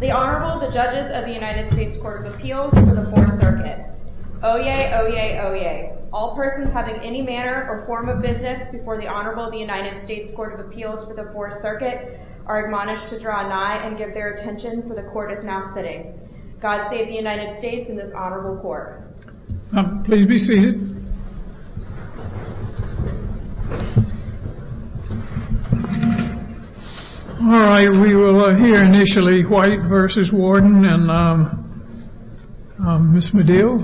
The Honorable, the Judges of the United States Court of Appeals for the 4th Circuit. Oyez! Oyez! Oyez! All persons having any manner or form of business before the Honorable of the United States Court of Appeals for the 4th Circuit are admonished to draw nigh and give their attention for the Court is now sitting. God save the United States and this Honorable Court. Please be seated. All right, we will hear initially White v. Warden and Ms. Medill.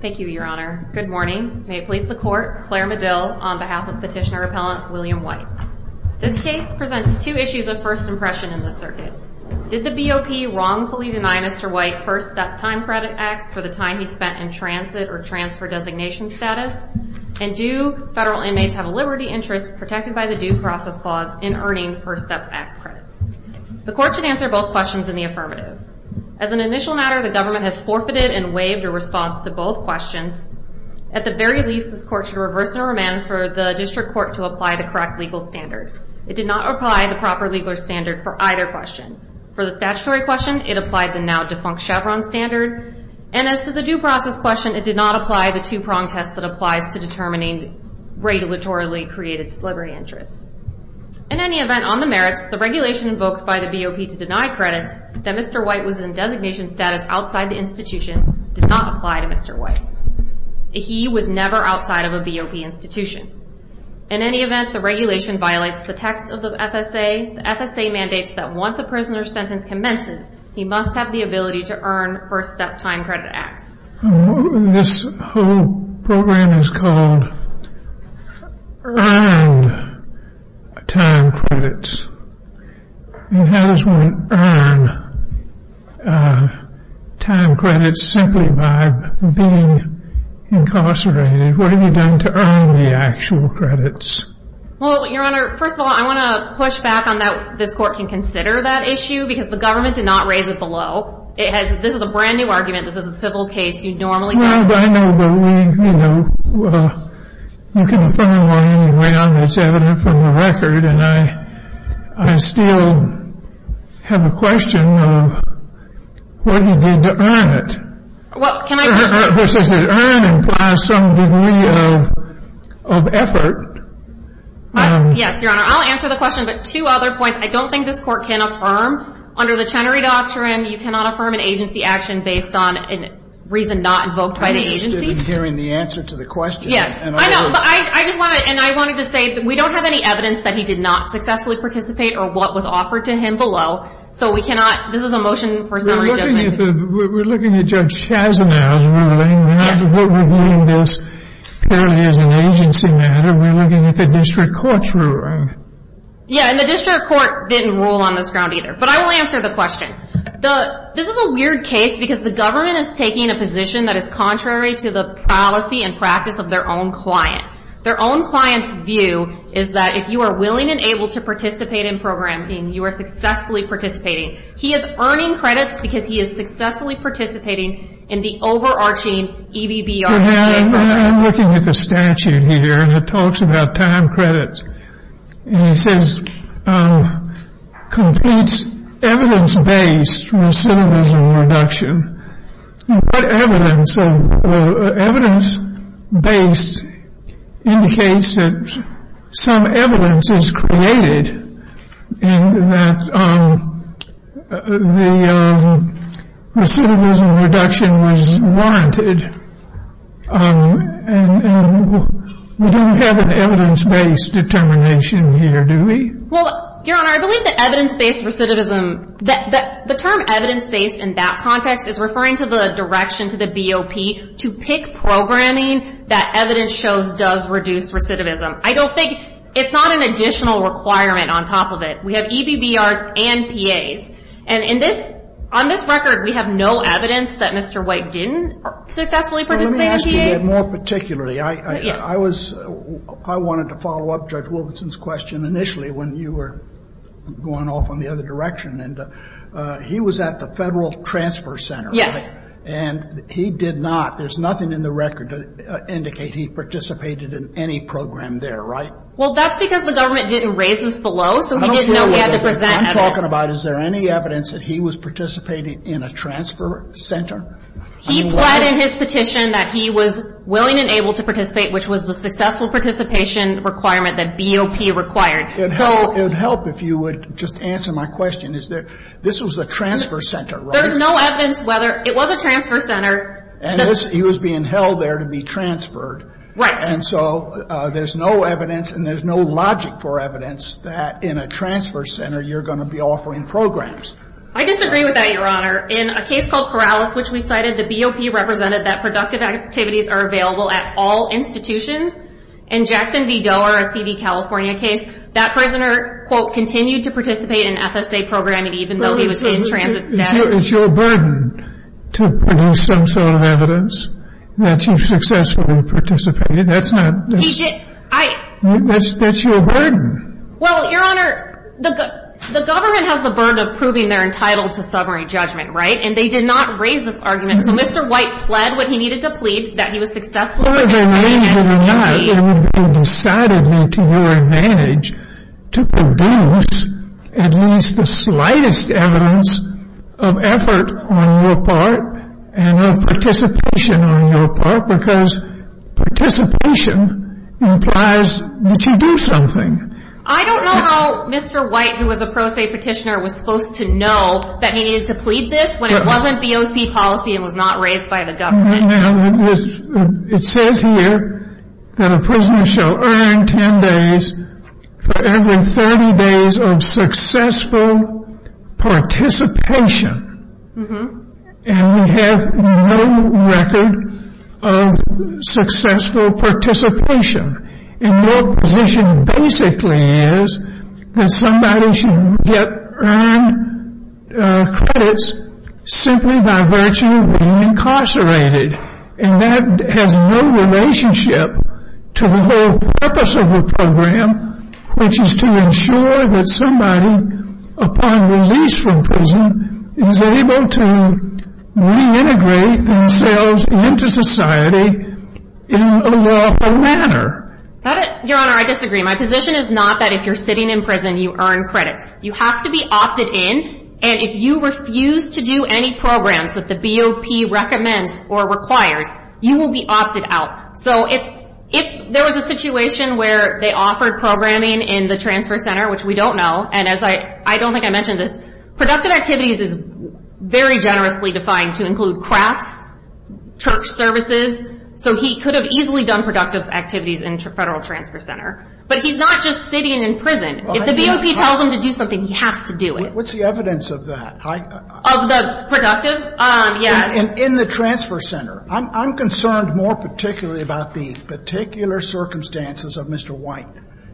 Thank you, Your Honor. Good morning. May it please the Court, Claire Medill on behalf of Petitioner-Appellant William White. This case presents two issues of first impression in the circuit. Did the BOP wrongfully deny Mr. White first-step time credit acts for the time he spent in transit or transfer designation status? And do federal inmates have a liberty interest protected by the Due Process Clause in earning first-step act credits? The Court should answer both questions in the affirmative. As an initial matter, the government has forfeited and waived a response to both questions. At the very least, this Court should reverse and remand for the District Court to apply the correct legal standard. It did not apply the proper legal standard for either question. For the statutory question, it applied the now-defunct Chevron standard. And as to the due process question, it did not apply the two-prong test that applies to determining regulatorily created celebrity interests. In any event, on the merits, the regulation invoked by the BOP to deny credits that Mr. White was in designation status outside the institution did not apply to Mr. White. He was never outside of a BOP institution. In any event, the regulation violates the text of the FSA. The FSA mandates that once a prisoner's sentence commences, he must have the ability to earn first-step time credit acts. This whole program is called earned time credits. And how does one earn time credits simply by being incarcerated? What have you done to earn the actual credits? Well, Your Honor, first of all, I want to push back on that this Court can consider that issue because the government did not raise it below. This is a brand-new argument. This is a civil case. You'd normally get it. Well, I know. But, you know, you can find more in the ground that's evident from the record. And I still have a question of what you did to earn it. Well, can I? This is an earning by some degree of effort. Yes, Your Honor. I'll answer the question. But two other points. I don't think this Court can affirm under the Chenery Doctrine you cannot affirm an agency action based on a reason not invoked by the agency. I'm interested in hearing the answer to the question. Yes. I know. But I just want to and I wanted to say that we don't have any evidence that he did not successfully participate or what was offered to him below. So we cannot. This is a motion for summary judgment. We're looking at Judge Chasimow's ruling. We're not reviewing this purely as an agency matter. We're looking at the District Court's ruling. Yeah, and the District Court didn't rule on this ground either. But I will answer the question. This is a weird case because the government is taking a position that is contrary to the policy and practice of their own client. Their own client's view is that if you are willing and able to participate in programming, you are successfully participating. He is earning credits because he is successfully participating in the overarching EBBR. I'm looking at the statute here and it talks about time credits. And it says completes evidence-based recidivism reduction. What evidence? So evidence-based indicates that some evidence is created and that the recidivism reduction was wanted. And we don't have an evidence-based determination here, do we? Well, Your Honor, I believe that evidence-based recidivism, the term evidence-based in that context is referring to the direction to the BOP to pick programming that evidence shows does reduce recidivism. I don't think it's not an additional requirement on top of it. We have EBBRs and PAs. And on this record, we have no evidence that Mr. White didn't successfully participate in PAs. Well, let me ask you more particularly. I wanted to follow up Judge Wilkinson's question initially when you were going off on the other direction. He was at the Federal Transfer Center, right? And he did not. There's nothing in the record to indicate he participated in any program there, right? Well, that's because the government didn't raise this below, so he didn't know he had to present evidence. I'm talking about is there any evidence that he was participating in a transfer center? He pled in his petition that he was willing and able to participate, which was the successful participation requirement that BOP required. It would help if you would just answer my question. This was a transfer center, right? There's no evidence whether it was a transfer center. And he was being held there to be transferred. Right. And so there's no evidence and there's no logic for evidence that in a transfer center you're going to be offering programs. I disagree with that, Your Honor. In a case called Corrales, which we cited, the BOP represented that productive activities are available at all institutions. In Jackson v. Doerr, a C.D. California case, that prisoner, quote, continued to participate in FSA programming even though he was in transit status. It's your burden to produce some sort of evidence that he successfully participated. That's your burden. Well, Your Honor, the government has the burden of proving they're entitled to stubbornly judgment, right? And they did not raise this argument. So Mr. White pled what he needed to plead, that he was successfully participating. Whether they raised it or not, it would be decidedly to your advantage to produce at least the slightest evidence of effort on your part and of participation on your part because participation implies that you do something. I don't know how Mr. White, who was a pro se petitioner, was supposed to know that he needed to plead this when it wasn't BOP policy and was not raised by the government. It says here that a prisoner shall earn 10 days for every 30 days of successful participation. And we have no record of successful participation. And your position basically is that somebody should get earned credits simply by virtue of being incarcerated. And that has no relationship to the whole purpose of the program, which is to ensure that somebody, upon release from prison, is able to reintegrate themselves into society in a lawful manner. Your Honor, I disagree. My position is not that if you're sitting in prison, you earn credits. You have to be opted in. And if you refuse to do any programs that the BOP recommends or requires, you will be opted out. So if there was a situation where they offered programming in the Transfer Center, which we don't know, and I don't think I mentioned this, productive activities is very generously defined to include crafts, church services. So he could have easily done productive activities in Federal Transfer Center. But he's not just sitting in prison. If the BOP tells him to do something, he has to do it. What's the evidence of that? Of the productive? Yes. In the Transfer Center. I'm concerned more particularly about the particular circumstances of Mr. White.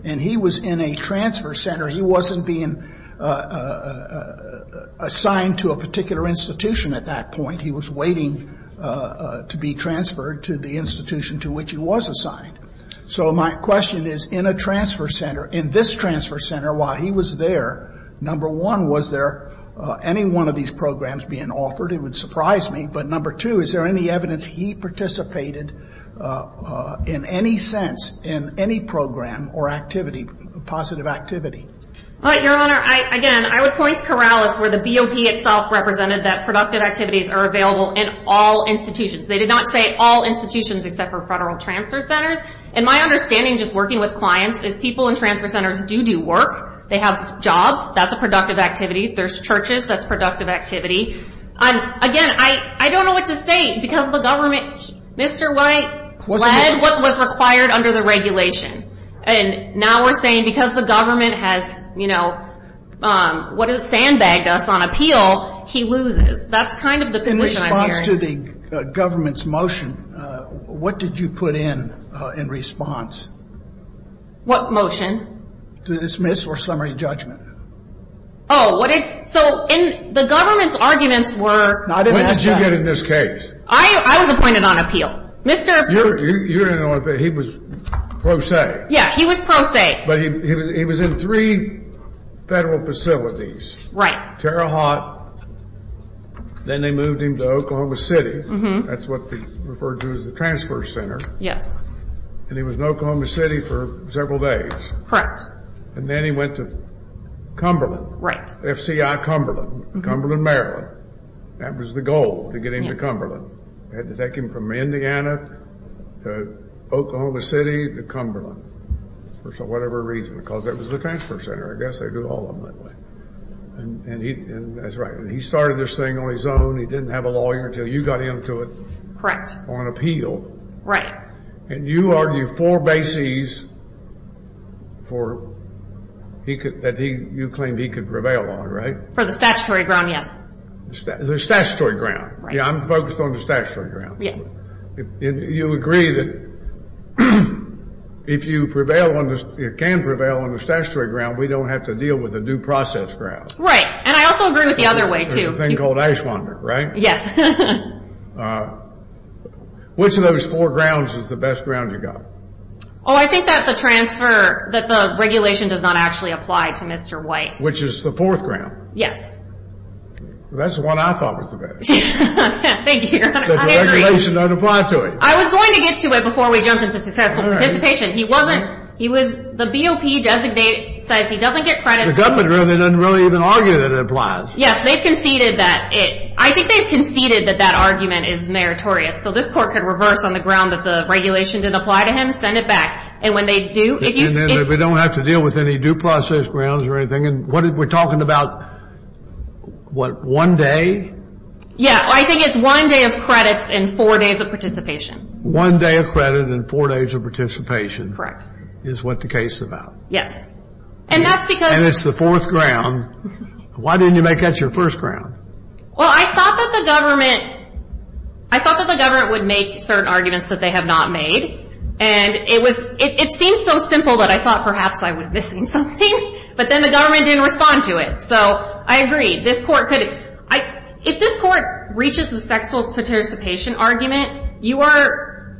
And he was in a Transfer Center. He wasn't being assigned to a particular institution at that point. He was waiting to be transferred to the institution to which he was assigned. So my question is, in a Transfer Center, in this Transfer Center, while he was there, number one, was there any one of these programs being offered? It would surprise me. But number two, is there any evidence he participated in any sense in any program or activity, positive activity? Your Honor, again, I would point to Corrales where the BOP itself represented that productive activities are available in all institutions. They did not say all institutions except for Federal Transfer Centers. And my understanding, just working with clients, is people in Transfer Centers do do work. They have jobs. That's a productive activity. There's churches. That's productive activity. Again, I don't know what to say because the government, Mr. White led what was required under the regulation. And now we're saying because the government has, you know, sandbagged us on appeal, he loses. That's kind of the position I'm hearing. In response to the government's motion, what did you put in in response? What motion? To dismiss or summary judgment. Oh, so the government's arguments were. When did you get in this case? I was appointed on appeal. You're in on appeal. He was pro se. Yeah, he was pro se. But he was in three Federal facilities. Right. Terre Haute. Then they moved him to Oklahoma City. That's what they referred to as the Transfer Center. Yes. And he was in Oklahoma City for several days. Correct. And then he went to Cumberland. FCI Cumberland. Cumberland, Maryland. That was the goal, to get him to Cumberland. Had to take him from Indiana to Oklahoma City to Cumberland for whatever reason. Because that was the Transfer Center. I guess they do all of them that way. And he started this thing on his own. He didn't have a lawyer until you got him to it. Correct. On appeal. Right. And you argue four bases that you claim he could prevail on, right? For the statutory ground, yes. The statutory ground. Yeah, I'm focused on the statutory ground. Yes. You agree that if you can prevail on the statutory ground, we don't have to deal with the due process grounds. Right. And I also agree with the other way, too. The thing called ash wonder, right? Yes. Which of those four grounds is the best ground you got? Oh, I think that the transfer, that the regulation does not actually apply to Mr. White. Which is the fourth ground? Yes. That's the one I thought was the best. Thank you, Your Honor. I agree. The regulation doesn't apply to it. I was going to get to it before we jumped into successful participation. He wasn't. He was. The BOP says he doesn't get credit. The government doesn't really even argue that it applies. Yes, they conceded that it. I think they conceded that that argument is meritorious. So this court could reverse on the ground that the regulation didn't apply to him, send it back. And when they do, if you... And then we don't have to deal with any due process grounds or anything. And what we're talking about, what, one day? Yeah, I think it's one day of credits and four days of participation. One day of credit and four days of participation. Correct. Is what the case is about. Yes. And that's because... And it's the fourth ground. Why didn't you make that your first ground? Well, I thought that the government... I thought that the government would make certain arguments that they have not made. And it was... It seemed so simple that I thought perhaps I was missing something. But then the government didn't respond to it. So I agree. This court could... If this court reaches a successful participation argument, you are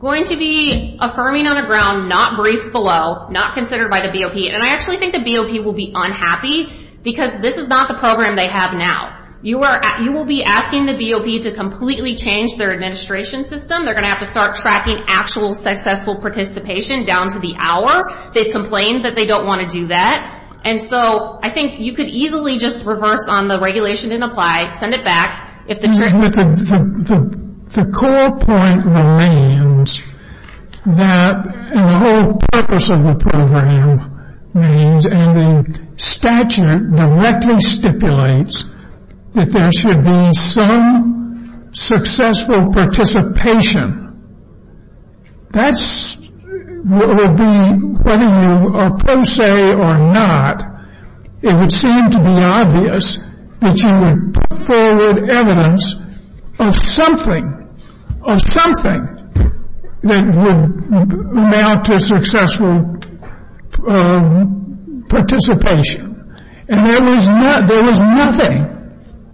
going to be affirming on the ground, not briefed below, not considered by the BOP. And I actually think the BOP will be unhappy because this is not the program they have now. You will be asking the BOP to completely change their administration system. They're going to have to start tracking actual successful participation down to the hour. They've complained that they don't want to do that. And so I think you could easily just reverse on the regulation didn't apply, send it back. The core point remains that... And the whole purpose of the program remains... And the statute directly stipulates that there should be some successful participation. That's what will be... Whether you are pro se or not, it would seem to be obvious that you would put forward evidence of something, of something that would amount to successful participation. And there was not... There was nothing.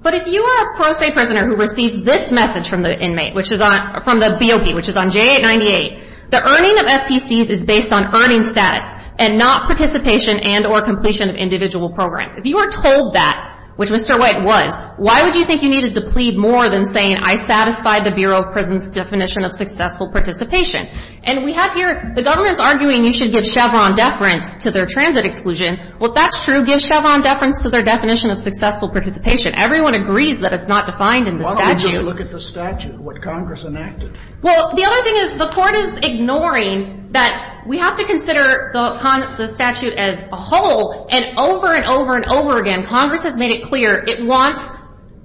But if you are a pro se prisoner who receives this message from the inmate, which is on, from the BOP, which is on J898, the earning of FTCs is based on earning status and not participation and or completion of individual programs. If you are told that, which Mr. White was, why would you think you needed to plead more than saying, I satisfied the Bureau of Prison's definition of successful participation? And we have here... The government's arguing you should give Chevron deference to their transit exclusion. Well, if that's true, give Chevron deference to their definition of successful participation. Everyone agrees that it's not defined in the statute. Why don't we just look at the statute, what Congress enacted? Well, the other thing is the Court is ignoring that we have to consider the statute as a whole. And over and over and over again, Congress has made it clear it wants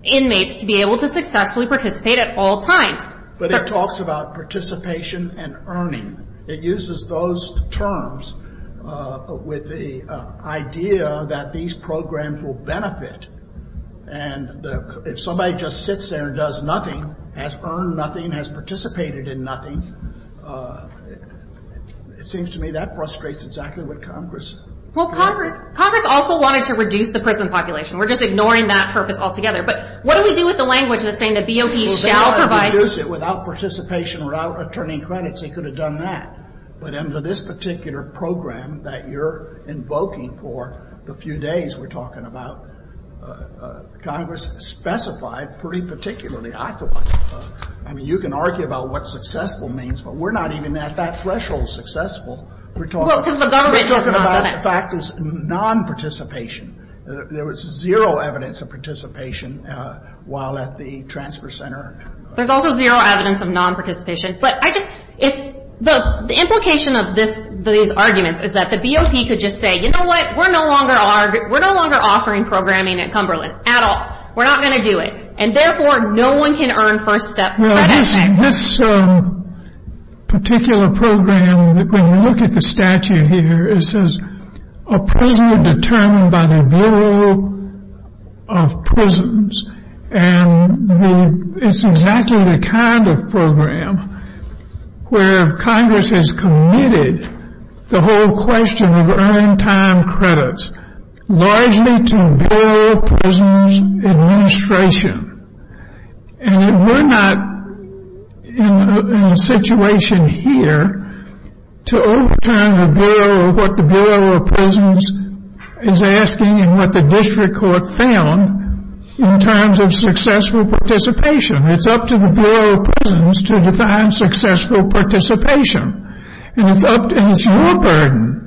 inmates to be able to successfully participate at all times. But it talks about participation and earning. It uses those terms with the idea that these programs will benefit. And if somebody just sits there and does nothing, has earned nothing, has participated in nothing, it seems to me that frustrates exactly what Congress... Well, Congress also wanted to reduce the prison population. We're just ignoring that purpose altogether. But what do we do with the language that's saying the BOP shall provide... Well, if they wanted to reduce it without participation, without attorney credits, they could have done that. But under this particular program that you're invoking for the few days we're talking about, Congress specified pretty particularly. I mean, you can argue about what successful means, but we're not even at that threshold successful. We're talking about the fact it's nonparticipation. There was zero evidence of participation while at the transfer center. There's also zero evidence of nonparticipation. But I just... the implication of these arguments is that the BOP could just say, you know what, we're no longer offering programming at Cumberland, at all. We're not going to do it. And therefore, no one can earn first-step credit. This particular program, when you look at the statute here, it says a prison determined by the Bureau of Prisons. And it's exactly the kind of program where Congress has committed the whole question of earning time credits, largely to Bureau of Prisons administration. And we're not in a situation here to overturn the Bureau or what the Bureau of Prisons is asking and what the district court found in terms of successful participation. It's up to the Bureau of Prisons to define successful participation. And it's your burden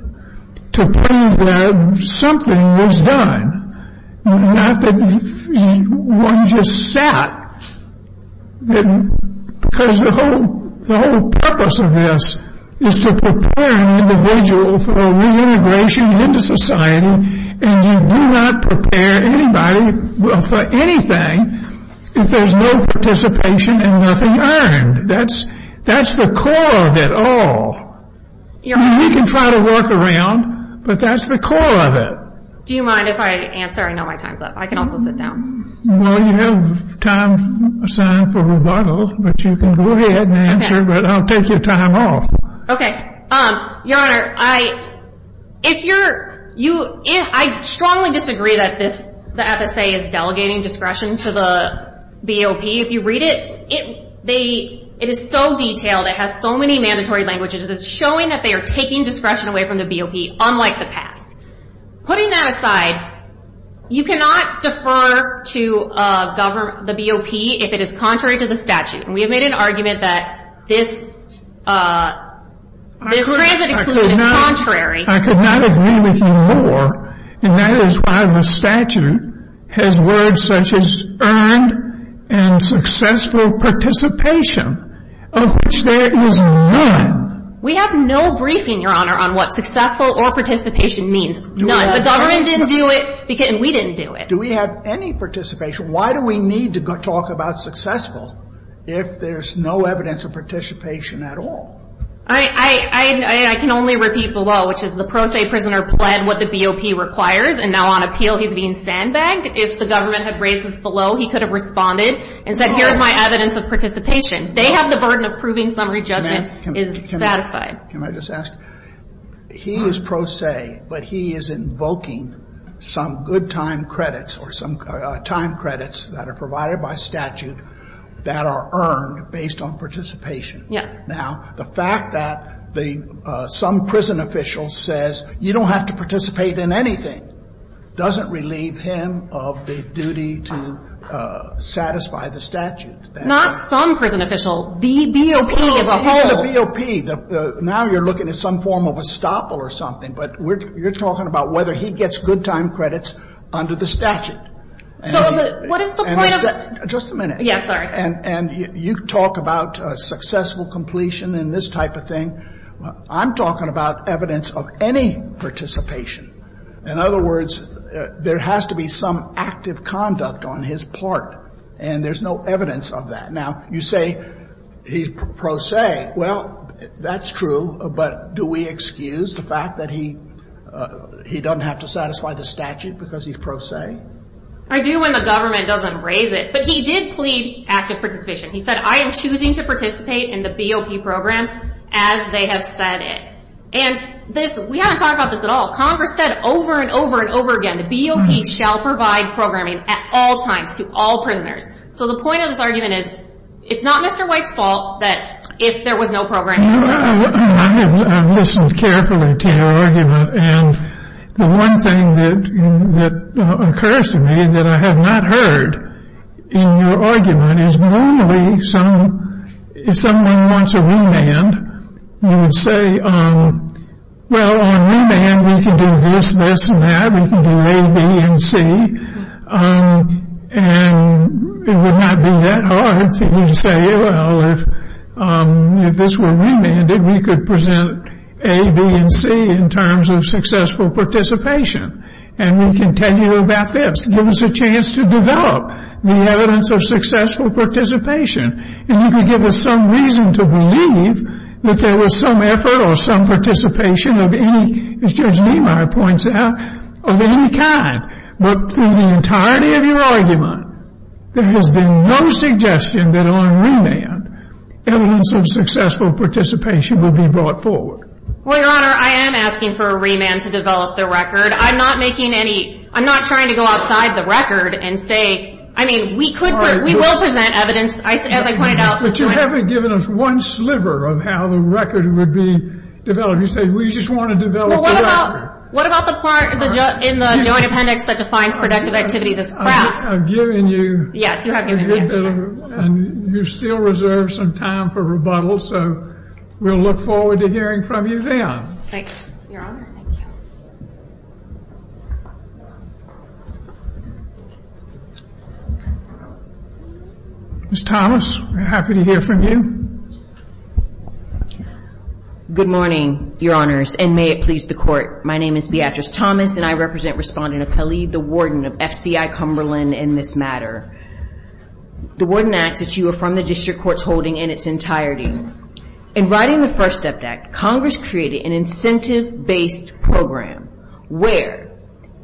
to prove that something was done, not that one just sat. Because the whole purpose of this is to prepare an individual for reintegration into society, and you do not prepare anybody for anything if there's no participation and nothing earned. That's the core of it all. We can try to work around, but that's the core of it. Do you mind if I answer? I know my time's up. I can also sit down. Well, you have time assigned for rebuttal, but you can go ahead and answer, but I'll take your time off. Okay. Your Honor, I strongly disagree that the FSA is delegating discretion to the BOP. If you read it, it is so detailed. It has so many mandatory languages. It's showing that they are taking discretion away from the BOP, unlike the past. Putting that aside, you cannot defer to the BOP if it is contrary to the statute, and we have made an argument that this transit exclusion is contrary. I could not agree with you more, and that is why the statute has words such as earned and successful participation, of which there is none. We have no briefing, Your Honor, on what successful or participation means. None. The government didn't do it, and we didn't do it. Do we have any participation? Why do we need to talk about successful if there's no evidence of participation at all? I can only repeat below, which is the pro se prisoner pled what the BOP requires, and now on appeal he's being sandbagged. If the government had raised this below, he could have responded and said here's my evidence of participation. They have the burden of proving summary judgment is satisfied. Can I just ask? He is pro se, but he is invoking some good time credits or some time credits that are provided by statute that are earned based on participation. Yes. Now, the fact that some prison official says you don't have to participate in anything doesn't relieve him of the duty to satisfy the statute. Not some prison official. The BOP as a whole. The BOP. Now you're looking at some form of estoppel or something, but you're talking about whether he gets good time credits under the statute. So what is the point of the Just a minute. Yes, sorry. And you talk about successful completion and this type of thing. I'm talking about evidence of any participation. In other words, there has to be some active conduct on his part, and there's no evidence of that. Now, you say he's pro se. Well, that's true, but do we excuse the fact that he doesn't have to satisfy the statute because he's pro se? I do when the government doesn't raise it. But he did plead active participation. He said, I am choosing to participate in the BOP program as they have said it. And we haven't talked about this at all. Congress said over and over and over again the BOP shall provide programming at all times to all prisoners. So the point of this argument is it's not Mr. White's fault that if there was no programming. I listened carefully to your argument, and the one thing that occurs to me that I have not heard in your argument is normally if someone wants a remand, you would say, well, on remand we can do this, this, and that. We can do A, B, and C. And it would not be that hard to say, well, if this were remanded, we could present A, B, and C in terms of successful participation. And we can tell you about this. Give us a chance to develop the evidence of successful participation. And you can give us some reason to believe that there was some effort or some participation of any, as Judge Niemeyer points out, of any kind. But through the entirety of your argument, there has been no suggestion that on remand evidence of successful participation will be brought forward. Well, Your Honor, I am asking for a remand to develop the record. I'm not making any, I'm not trying to go outside the record and say, I mean, we could, we will present evidence, as I pointed out. But you haven't given us one sliver of how the record would be developed. You say we just want to develop the record. Well, what about the part in the Joint Appendix that defines productive activities as crafts? I've given you a good bit of, and you still reserve some time for rebuttal, so we'll look forward to hearing from you then. Thanks, Your Honor. Thank you. Ms. Thomas, we're happy to hear from you. Good morning, Your Honors, and may it please the Court. My name is Beatrice Thomas, and I represent Respondent Khalid, the warden of FCI Cumberland in this matter. The warden asks that you affirm the district court's holding in its entirety. In writing the First Step Act, Congress created an incentive-based program where,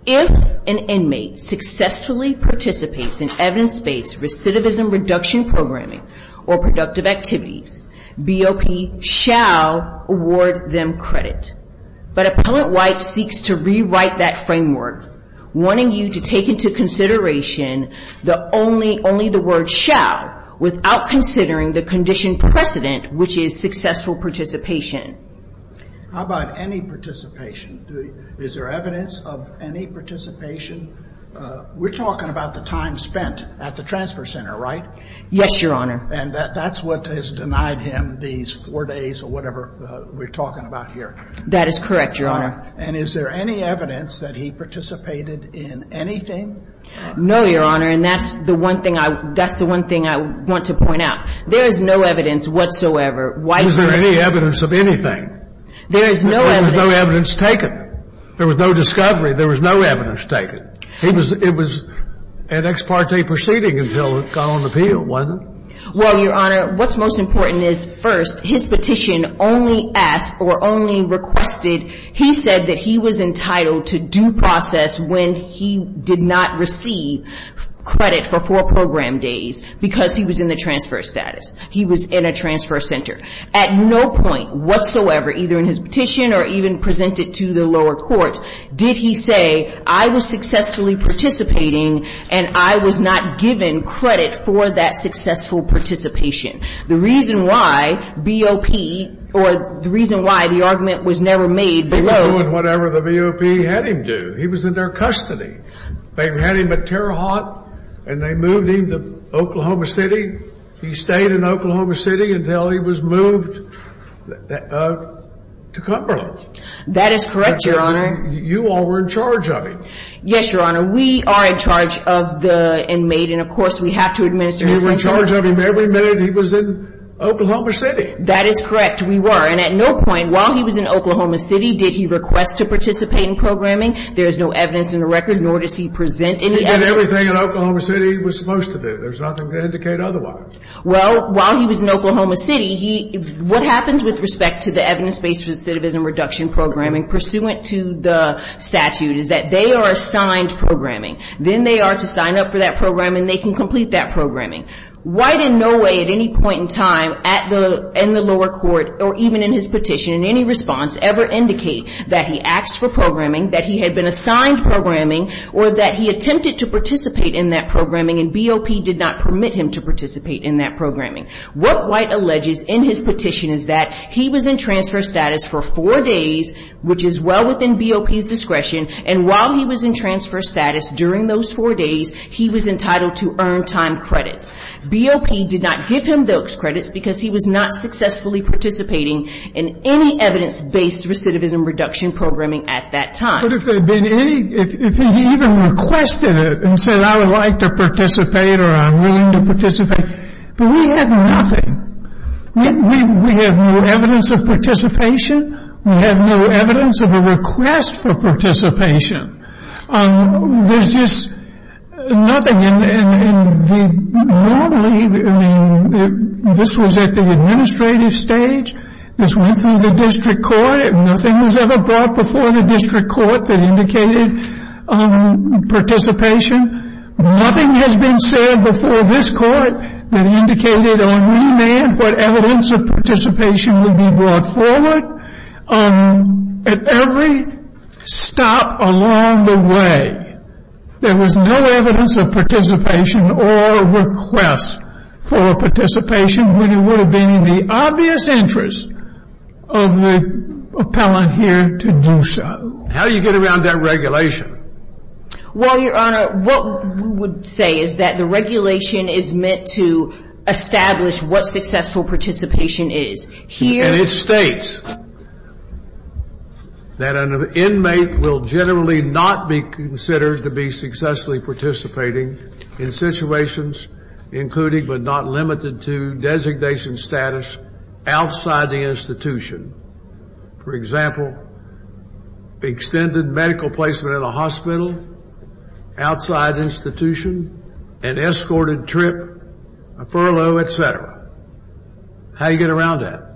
if an inmate successfully participates in evidence-based recidivism reduction programming or productive activities, BOP shall award them credit. But Appellant White seeks to rewrite that framework, wanting you to take into consideration the only, only the word shall without considering the condition precedent, which is successful participation. How about any participation? Is there evidence of any participation? We're talking about the time spent at the transfer center, right? Yes, Your Honor. And that's what has denied him these four days or whatever we're talking about here. That is correct, Your Honor. And is there any evidence that he participated in anything? No, Your Honor, and that's the one thing I want to point out. There is no evidence whatsoever. Why is there any evidence of anything? There is no evidence. There was no evidence taken. There was no discovery. There was no evidence taken. It was an ex parte proceeding until it got on appeal, wasn't it? Well, Your Honor, what's most important is, first, his petition only asked or only requested, he said that he was entitled to due process when he did not receive credit for four program days because he was in the transfer status. He was in a transfer center. At no point whatsoever, either in his petition or even presented to the lower court, did he say, I was successfully participating and I was not given credit for that successful participation. The reason why BOP or the reason why the argument was never made below. They were doing whatever the BOP had him do. He was in their custody. They had him at Terre Haute and they moved him to Oklahoma City. He stayed in Oklahoma City until he was moved to Cumberland. That is correct, Your Honor. And you all were in charge of him. Yes, Your Honor. We are in charge of the inmate and, of course, we have to administer his witnesses. And you were in charge of him every minute he was in Oklahoma City. That is correct. We were. And at no point while he was in Oklahoma City did he request to participate in programming. There is no evidence in the record, nor does he present any evidence. He did everything in Oklahoma City he was supposed to do. There's nothing to indicate otherwise. Well, while he was in Oklahoma City, what happens with respect to the evidence-based recidivism reduction programming pursuant to the statute is that they are assigned programming. Then they are to sign up for that program and they can complete that programming. Why did no way at any point in time in the lower court or even in his petition in any response ever indicate that he asked for programming, that he had been assigned programming, or that he attempted to participate in that programming and BOP did not permit him to participate in that programming? What White alleges in his petition is that he was in transfer status for four days, which is well within BOP's discretion. And while he was in transfer status during those four days, he was entitled to earned time credits. BOP did not give him those credits because he was not successfully participating in any evidence-based recidivism reduction programming at that time. But if there had been any, if he even requested it and said I would like to participate or I'm willing to participate, but we had nothing. We have no evidence of participation. We have no evidence of a request for participation. There's just nothing. Normally, this was at the administrative stage. This went through the district court. Nothing was ever brought before the district court that indicated participation. Nothing has been said before this court that indicated on remand what evidence of participation would be brought forward. At every stop along the way, there was no evidence of participation or request for participation when it would have been in the obvious interest of the appellant here to do so. How do you get around that regulation? Well, Your Honor, what we would say is that the regulation is meant to establish what successful participation is. And it states that an inmate will generally not be considered to be successfully participating in situations including but not limited to designation status outside the institution. For example, extended medical placement in a hospital, outside the institution, an escorted trip, a furlough, et cetera. How do you get around that?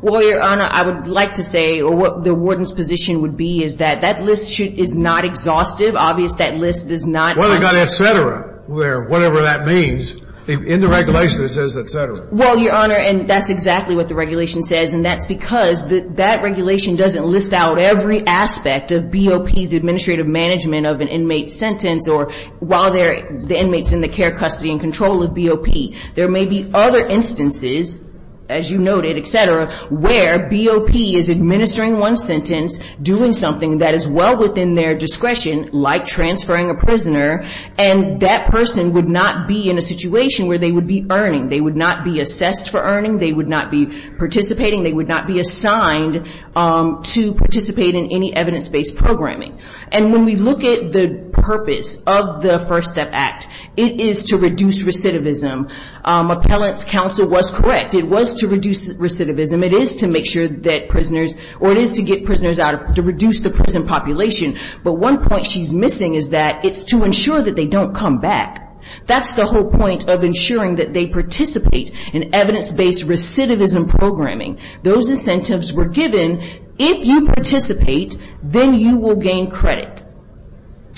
Well, Your Honor, I would like to say or what the warden's position would be is that that list is not exhaustive. Obviously, that list is not... Well, they've got et cetera, whatever that means. In the regulation, it says et cetera. Well, Your Honor, and that's exactly what the regulation says. And that's because that regulation doesn't list out every aspect of BOP's administrative management of an inmate's sentence or while the inmate's in the care, custody, and control of BOP. There may be other instances, as you noted, et cetera, where BOP is administering one sentence, doing something that is well within their discretion, like transferring a prisoner, and that person would not be in a situation where they would be earning. They would not be assessed for earning. They would not be participating. They would not be assigned to participate in any evidence-based programming. And when we look at the purpose of the First Step Act, it is to reduce recidivism. Appellant's counsel was correct. It was to reduce recidivism. It is to make sure that prisoners, or it is to get prisoners out, to reduce the prison population. But one point she's missing is that it's to ensure that they don't come back. That's the whole point of ensuring that they participate in evidence-based recidivism programming. Those incentives were given. If you participate, then you will gain credit.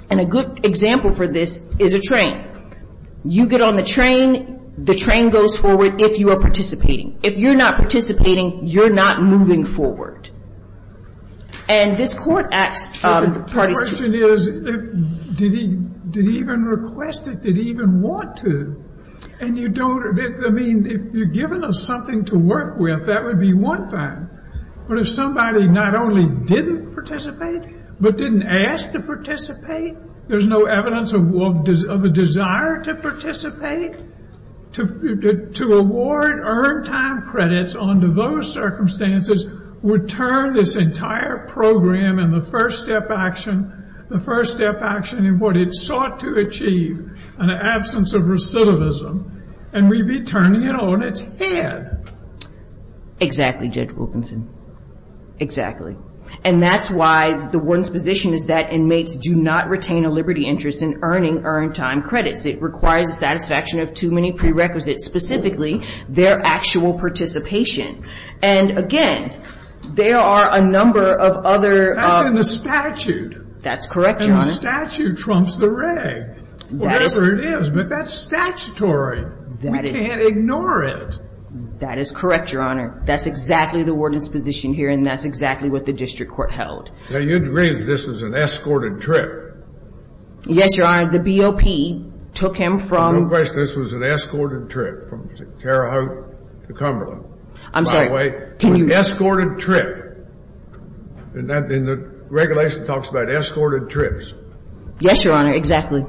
And a good example for this is a train. You get on the train. The train goes forward if you are participating. If you're not participating, you're not moving forward. And this Court asked the parties to. Did he even request it? Did he even want to? And you don't. I mean, if you're given something to work with, that would be one thing. But if somebody not only didn't participate, but didn't ask to participate, there's no evidence of a desire to participate, to award earned time credits under those circumstances would turn this entire program in the first-step action, the first-step action in what it sought to achieve in the absence of recidivism, and we'd be turning it on its head. Exactly, Judge Wilkinson. Exactly. And that's why the warden's position is that inmates do not retain a liberty interest in earning earned time credits. It requires a satisfaction of too many prerequisites, specifically their actual participation. And, again, there are a number of other. That's in the statute. That's correct, Your Honor. And the statute trumps the reg. Whatever it is, but that's statutory. We can't ignore it. That is correct, Your Honor. That's exactly the warden's position here, and that's exactly what the district court held. Now, you'd agree that this was an escorted trip. Yes, Your Honor. The BOP took him from... No question. This was an escorted trip from Terre Haute to Cumberland. I'm sorry. By the way, it was an escorted trip. And the regulation talks about escorted trips. Yes, Your Honor, exactly.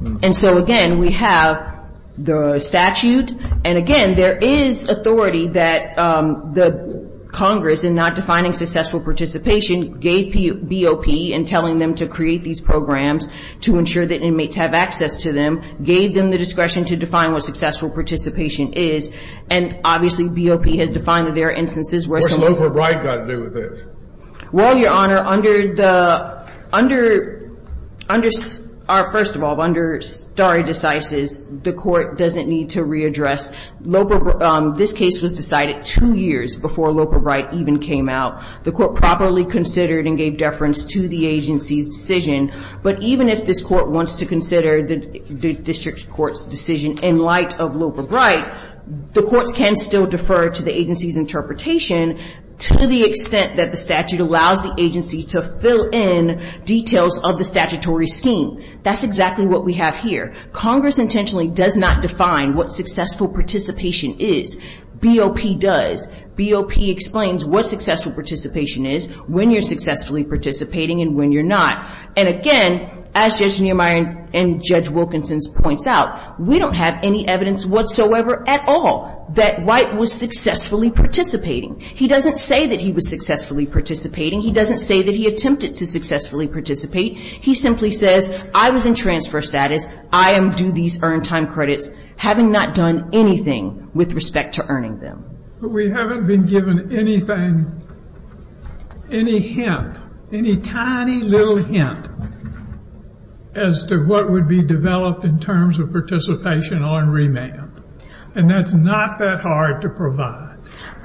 And so, again, we have the statute. And, again, there is authority that the Congress, in not defining successful participation, gave BOP in telling them to create these programs to ensure that inmates have access to them, gave them the discretion to define what successful participation is. And, obviously, BOP has defined that there are instances where someone... What has Loper Bright got to do with it? Well, Your Honor, under the... Under... Under... First of all, under stare decisis, the Court doesn't need to readdress. This case was decided two years before Loper Bright even came out. The Court properly considered and gave deference to the agency's decision. But even if this Court wants to consider the district court's decision in light of Loper Bright, the courts can still defer to the agency's interpretation to the extent that the statute allows the agency to fill in details of the statutory scheme. That's exactly what we have here. Congress intentionally does not define what successful participation is. BOP does. BOP explains what successful participation is, when you're successfully participating, and when you're not. And, again, as Judge Niemeyer and Judge Wilkinson points out, we don't have any evidence whatsoever at all that White was successfully participating. He doesn't say that he was successfully participating. He doesn't say that he attempted to successfully participate. He simply says, I was in transfer status, I am due these earned time credits, having not done anything with respect to earning them. But we haven't been given anything, any hint, any tiny little hint, as to what would be developed in terms of participation on remand. And that's not that hard to provide.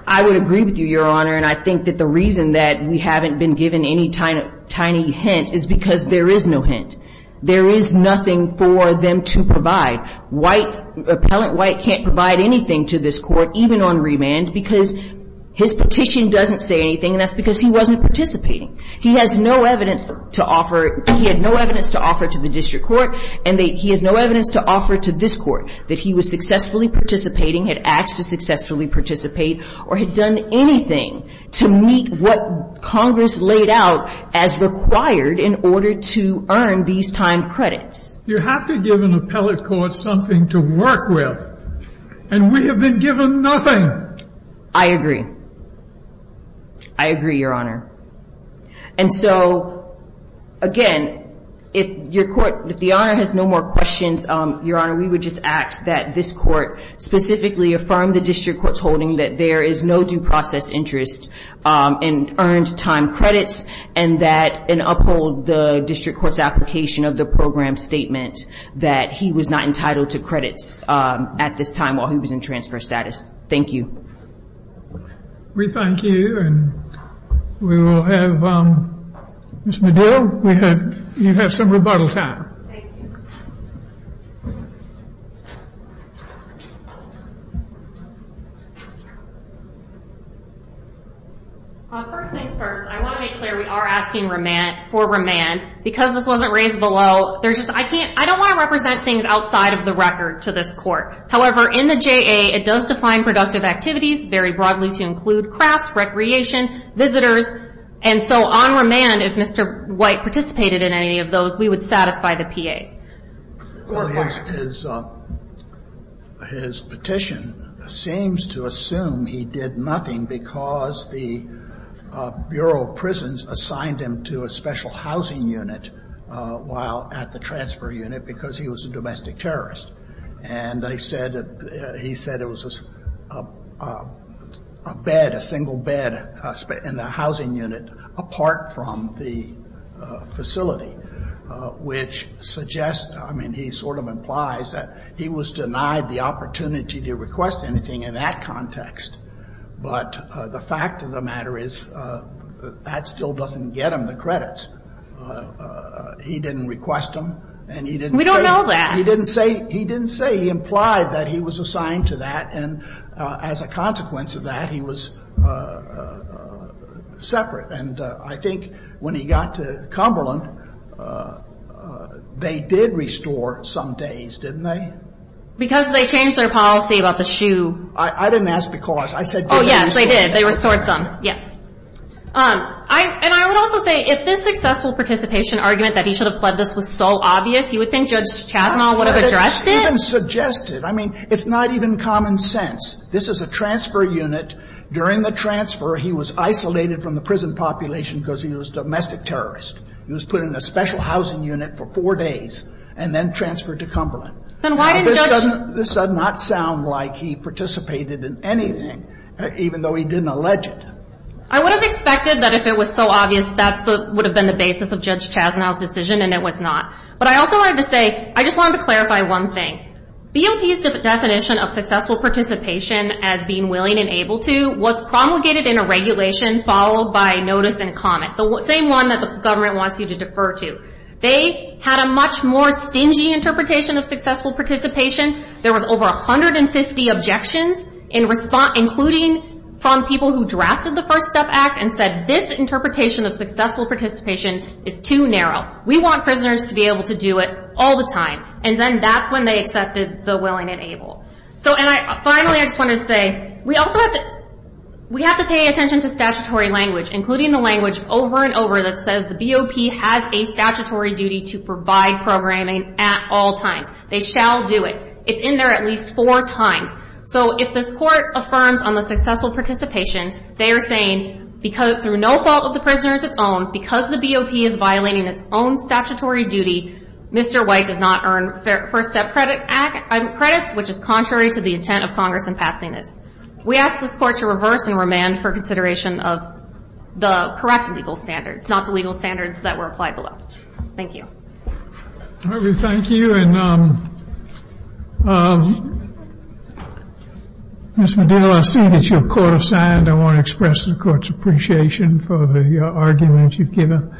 I would agree with you, Your Honor, and I think that the reason that we haven't been given any tiny hint is because there is no hint. There is nothing for them to provide. White, Appellant White can't provide anything to this Court, even on remand, because his petition doesn't say anything, and that's because he wasn't participating. He has no evidence to offer. He had no evidence to offer to the District Court, and he has no evidence to offer to this Court that he was successfully participating, had asked to successfully participate, or had done anything to meet what Congress laid out as required in order to earn these time credits. You have to give an appellate court something to work with, and we have been given nothing. I agree. I agree, Your Honor. And so, again, if the Honor has no more questions, Your Honor, we would just ask that this Court specifically affirm the District Court's holding that there is no due process interest in earned time credits and uphold the District Court's application of the program statement that he was not entitled to credits at this time while he was in transfer status. Thank you. We thank you, and we will have Ms. Medill, you have some rebuttal time. Thank you. First things first, I want to make clear we are asking for remand. Because this wasn't raised below, I don't want to represent things outside of the record to this Court. However, in the JA, it does define productive activities very broadly to include crafts, recreation, visitors. And so on remand, if Mr. White participated in any of those, we would satisfy the PA. His petition seems to assume he did nothing because the Bureau of Prisons assigned him to a special housing unit while at the transfer unit because he was a domestic terrorist. And he said it was a bed, a single bed in the housing unit apart from the facility, which suggests, I mean, he sort of implies that he was denied the opportunity to request anything in that context. But the fact of the matter is that still doesn't get him the credits. He didn't request them. We don't know that. He didn't say. He didn't say. He implied that he was assigned to that, and as a consequence of that, he was separate. And I think when he got to Cumberland, they did restore some days, didn't they? Because they changed their policy about the shoe. I didn't ask because. I said because. Oh, yes. They did. They restored some. Yes. And I would also say, if this successful participation argument that he should have fled this was so obvious, you would think Judge Chazanel would have addressed it? Well, but it's even suggested. I mean, it's not even common sense. This is a transfer unit. During the transfer, he was isolated from the prison population because he was a domestic terrorist. He was put in a special housing unit for four days and then transferred to Cumberland. This does not sound like he participated in anything, even though he didn't allege it. I would have expected that if it was so obvious, that would have been the basis of Judge Chazanel's decision, and it was not. But I also wanted to say, I just wanted to clarify one thing. BOP's definition of successful participation as being willing and able to was promulgated in a regulation followed by notice and comment, the same one that the government wants you to defer to. They had a much more stingy interpretation of successful participation. There was over 150 objections, including from people who drafted the First Step Act and said, this interpretation of successful participation is too narrow. We want prisoners to be able to do it all the time. And then that's when they accepted the willing and able. And finally, I just want to say, we have to pay attention to statutory language, including the language over and over that says the BOP has a statutory duty to provide programming at all times. They shall do it. It's in there at least four times. So if this Court affirms on the successful participation, they are saying, through no fault of the prisoner's own, because the BOP is violating its own statutory duty, Mr. White does not earn First Step credits, which is contrary to the intent of Congress in passing this. We ask this Court to reverse and remand for consideration of the correct legal standards, not the legal standards that were applied below. Thank you. Thank you. Ms. Medillo, I see that you're court-assigned. I want to express the Court's appreciation for the argument you've given.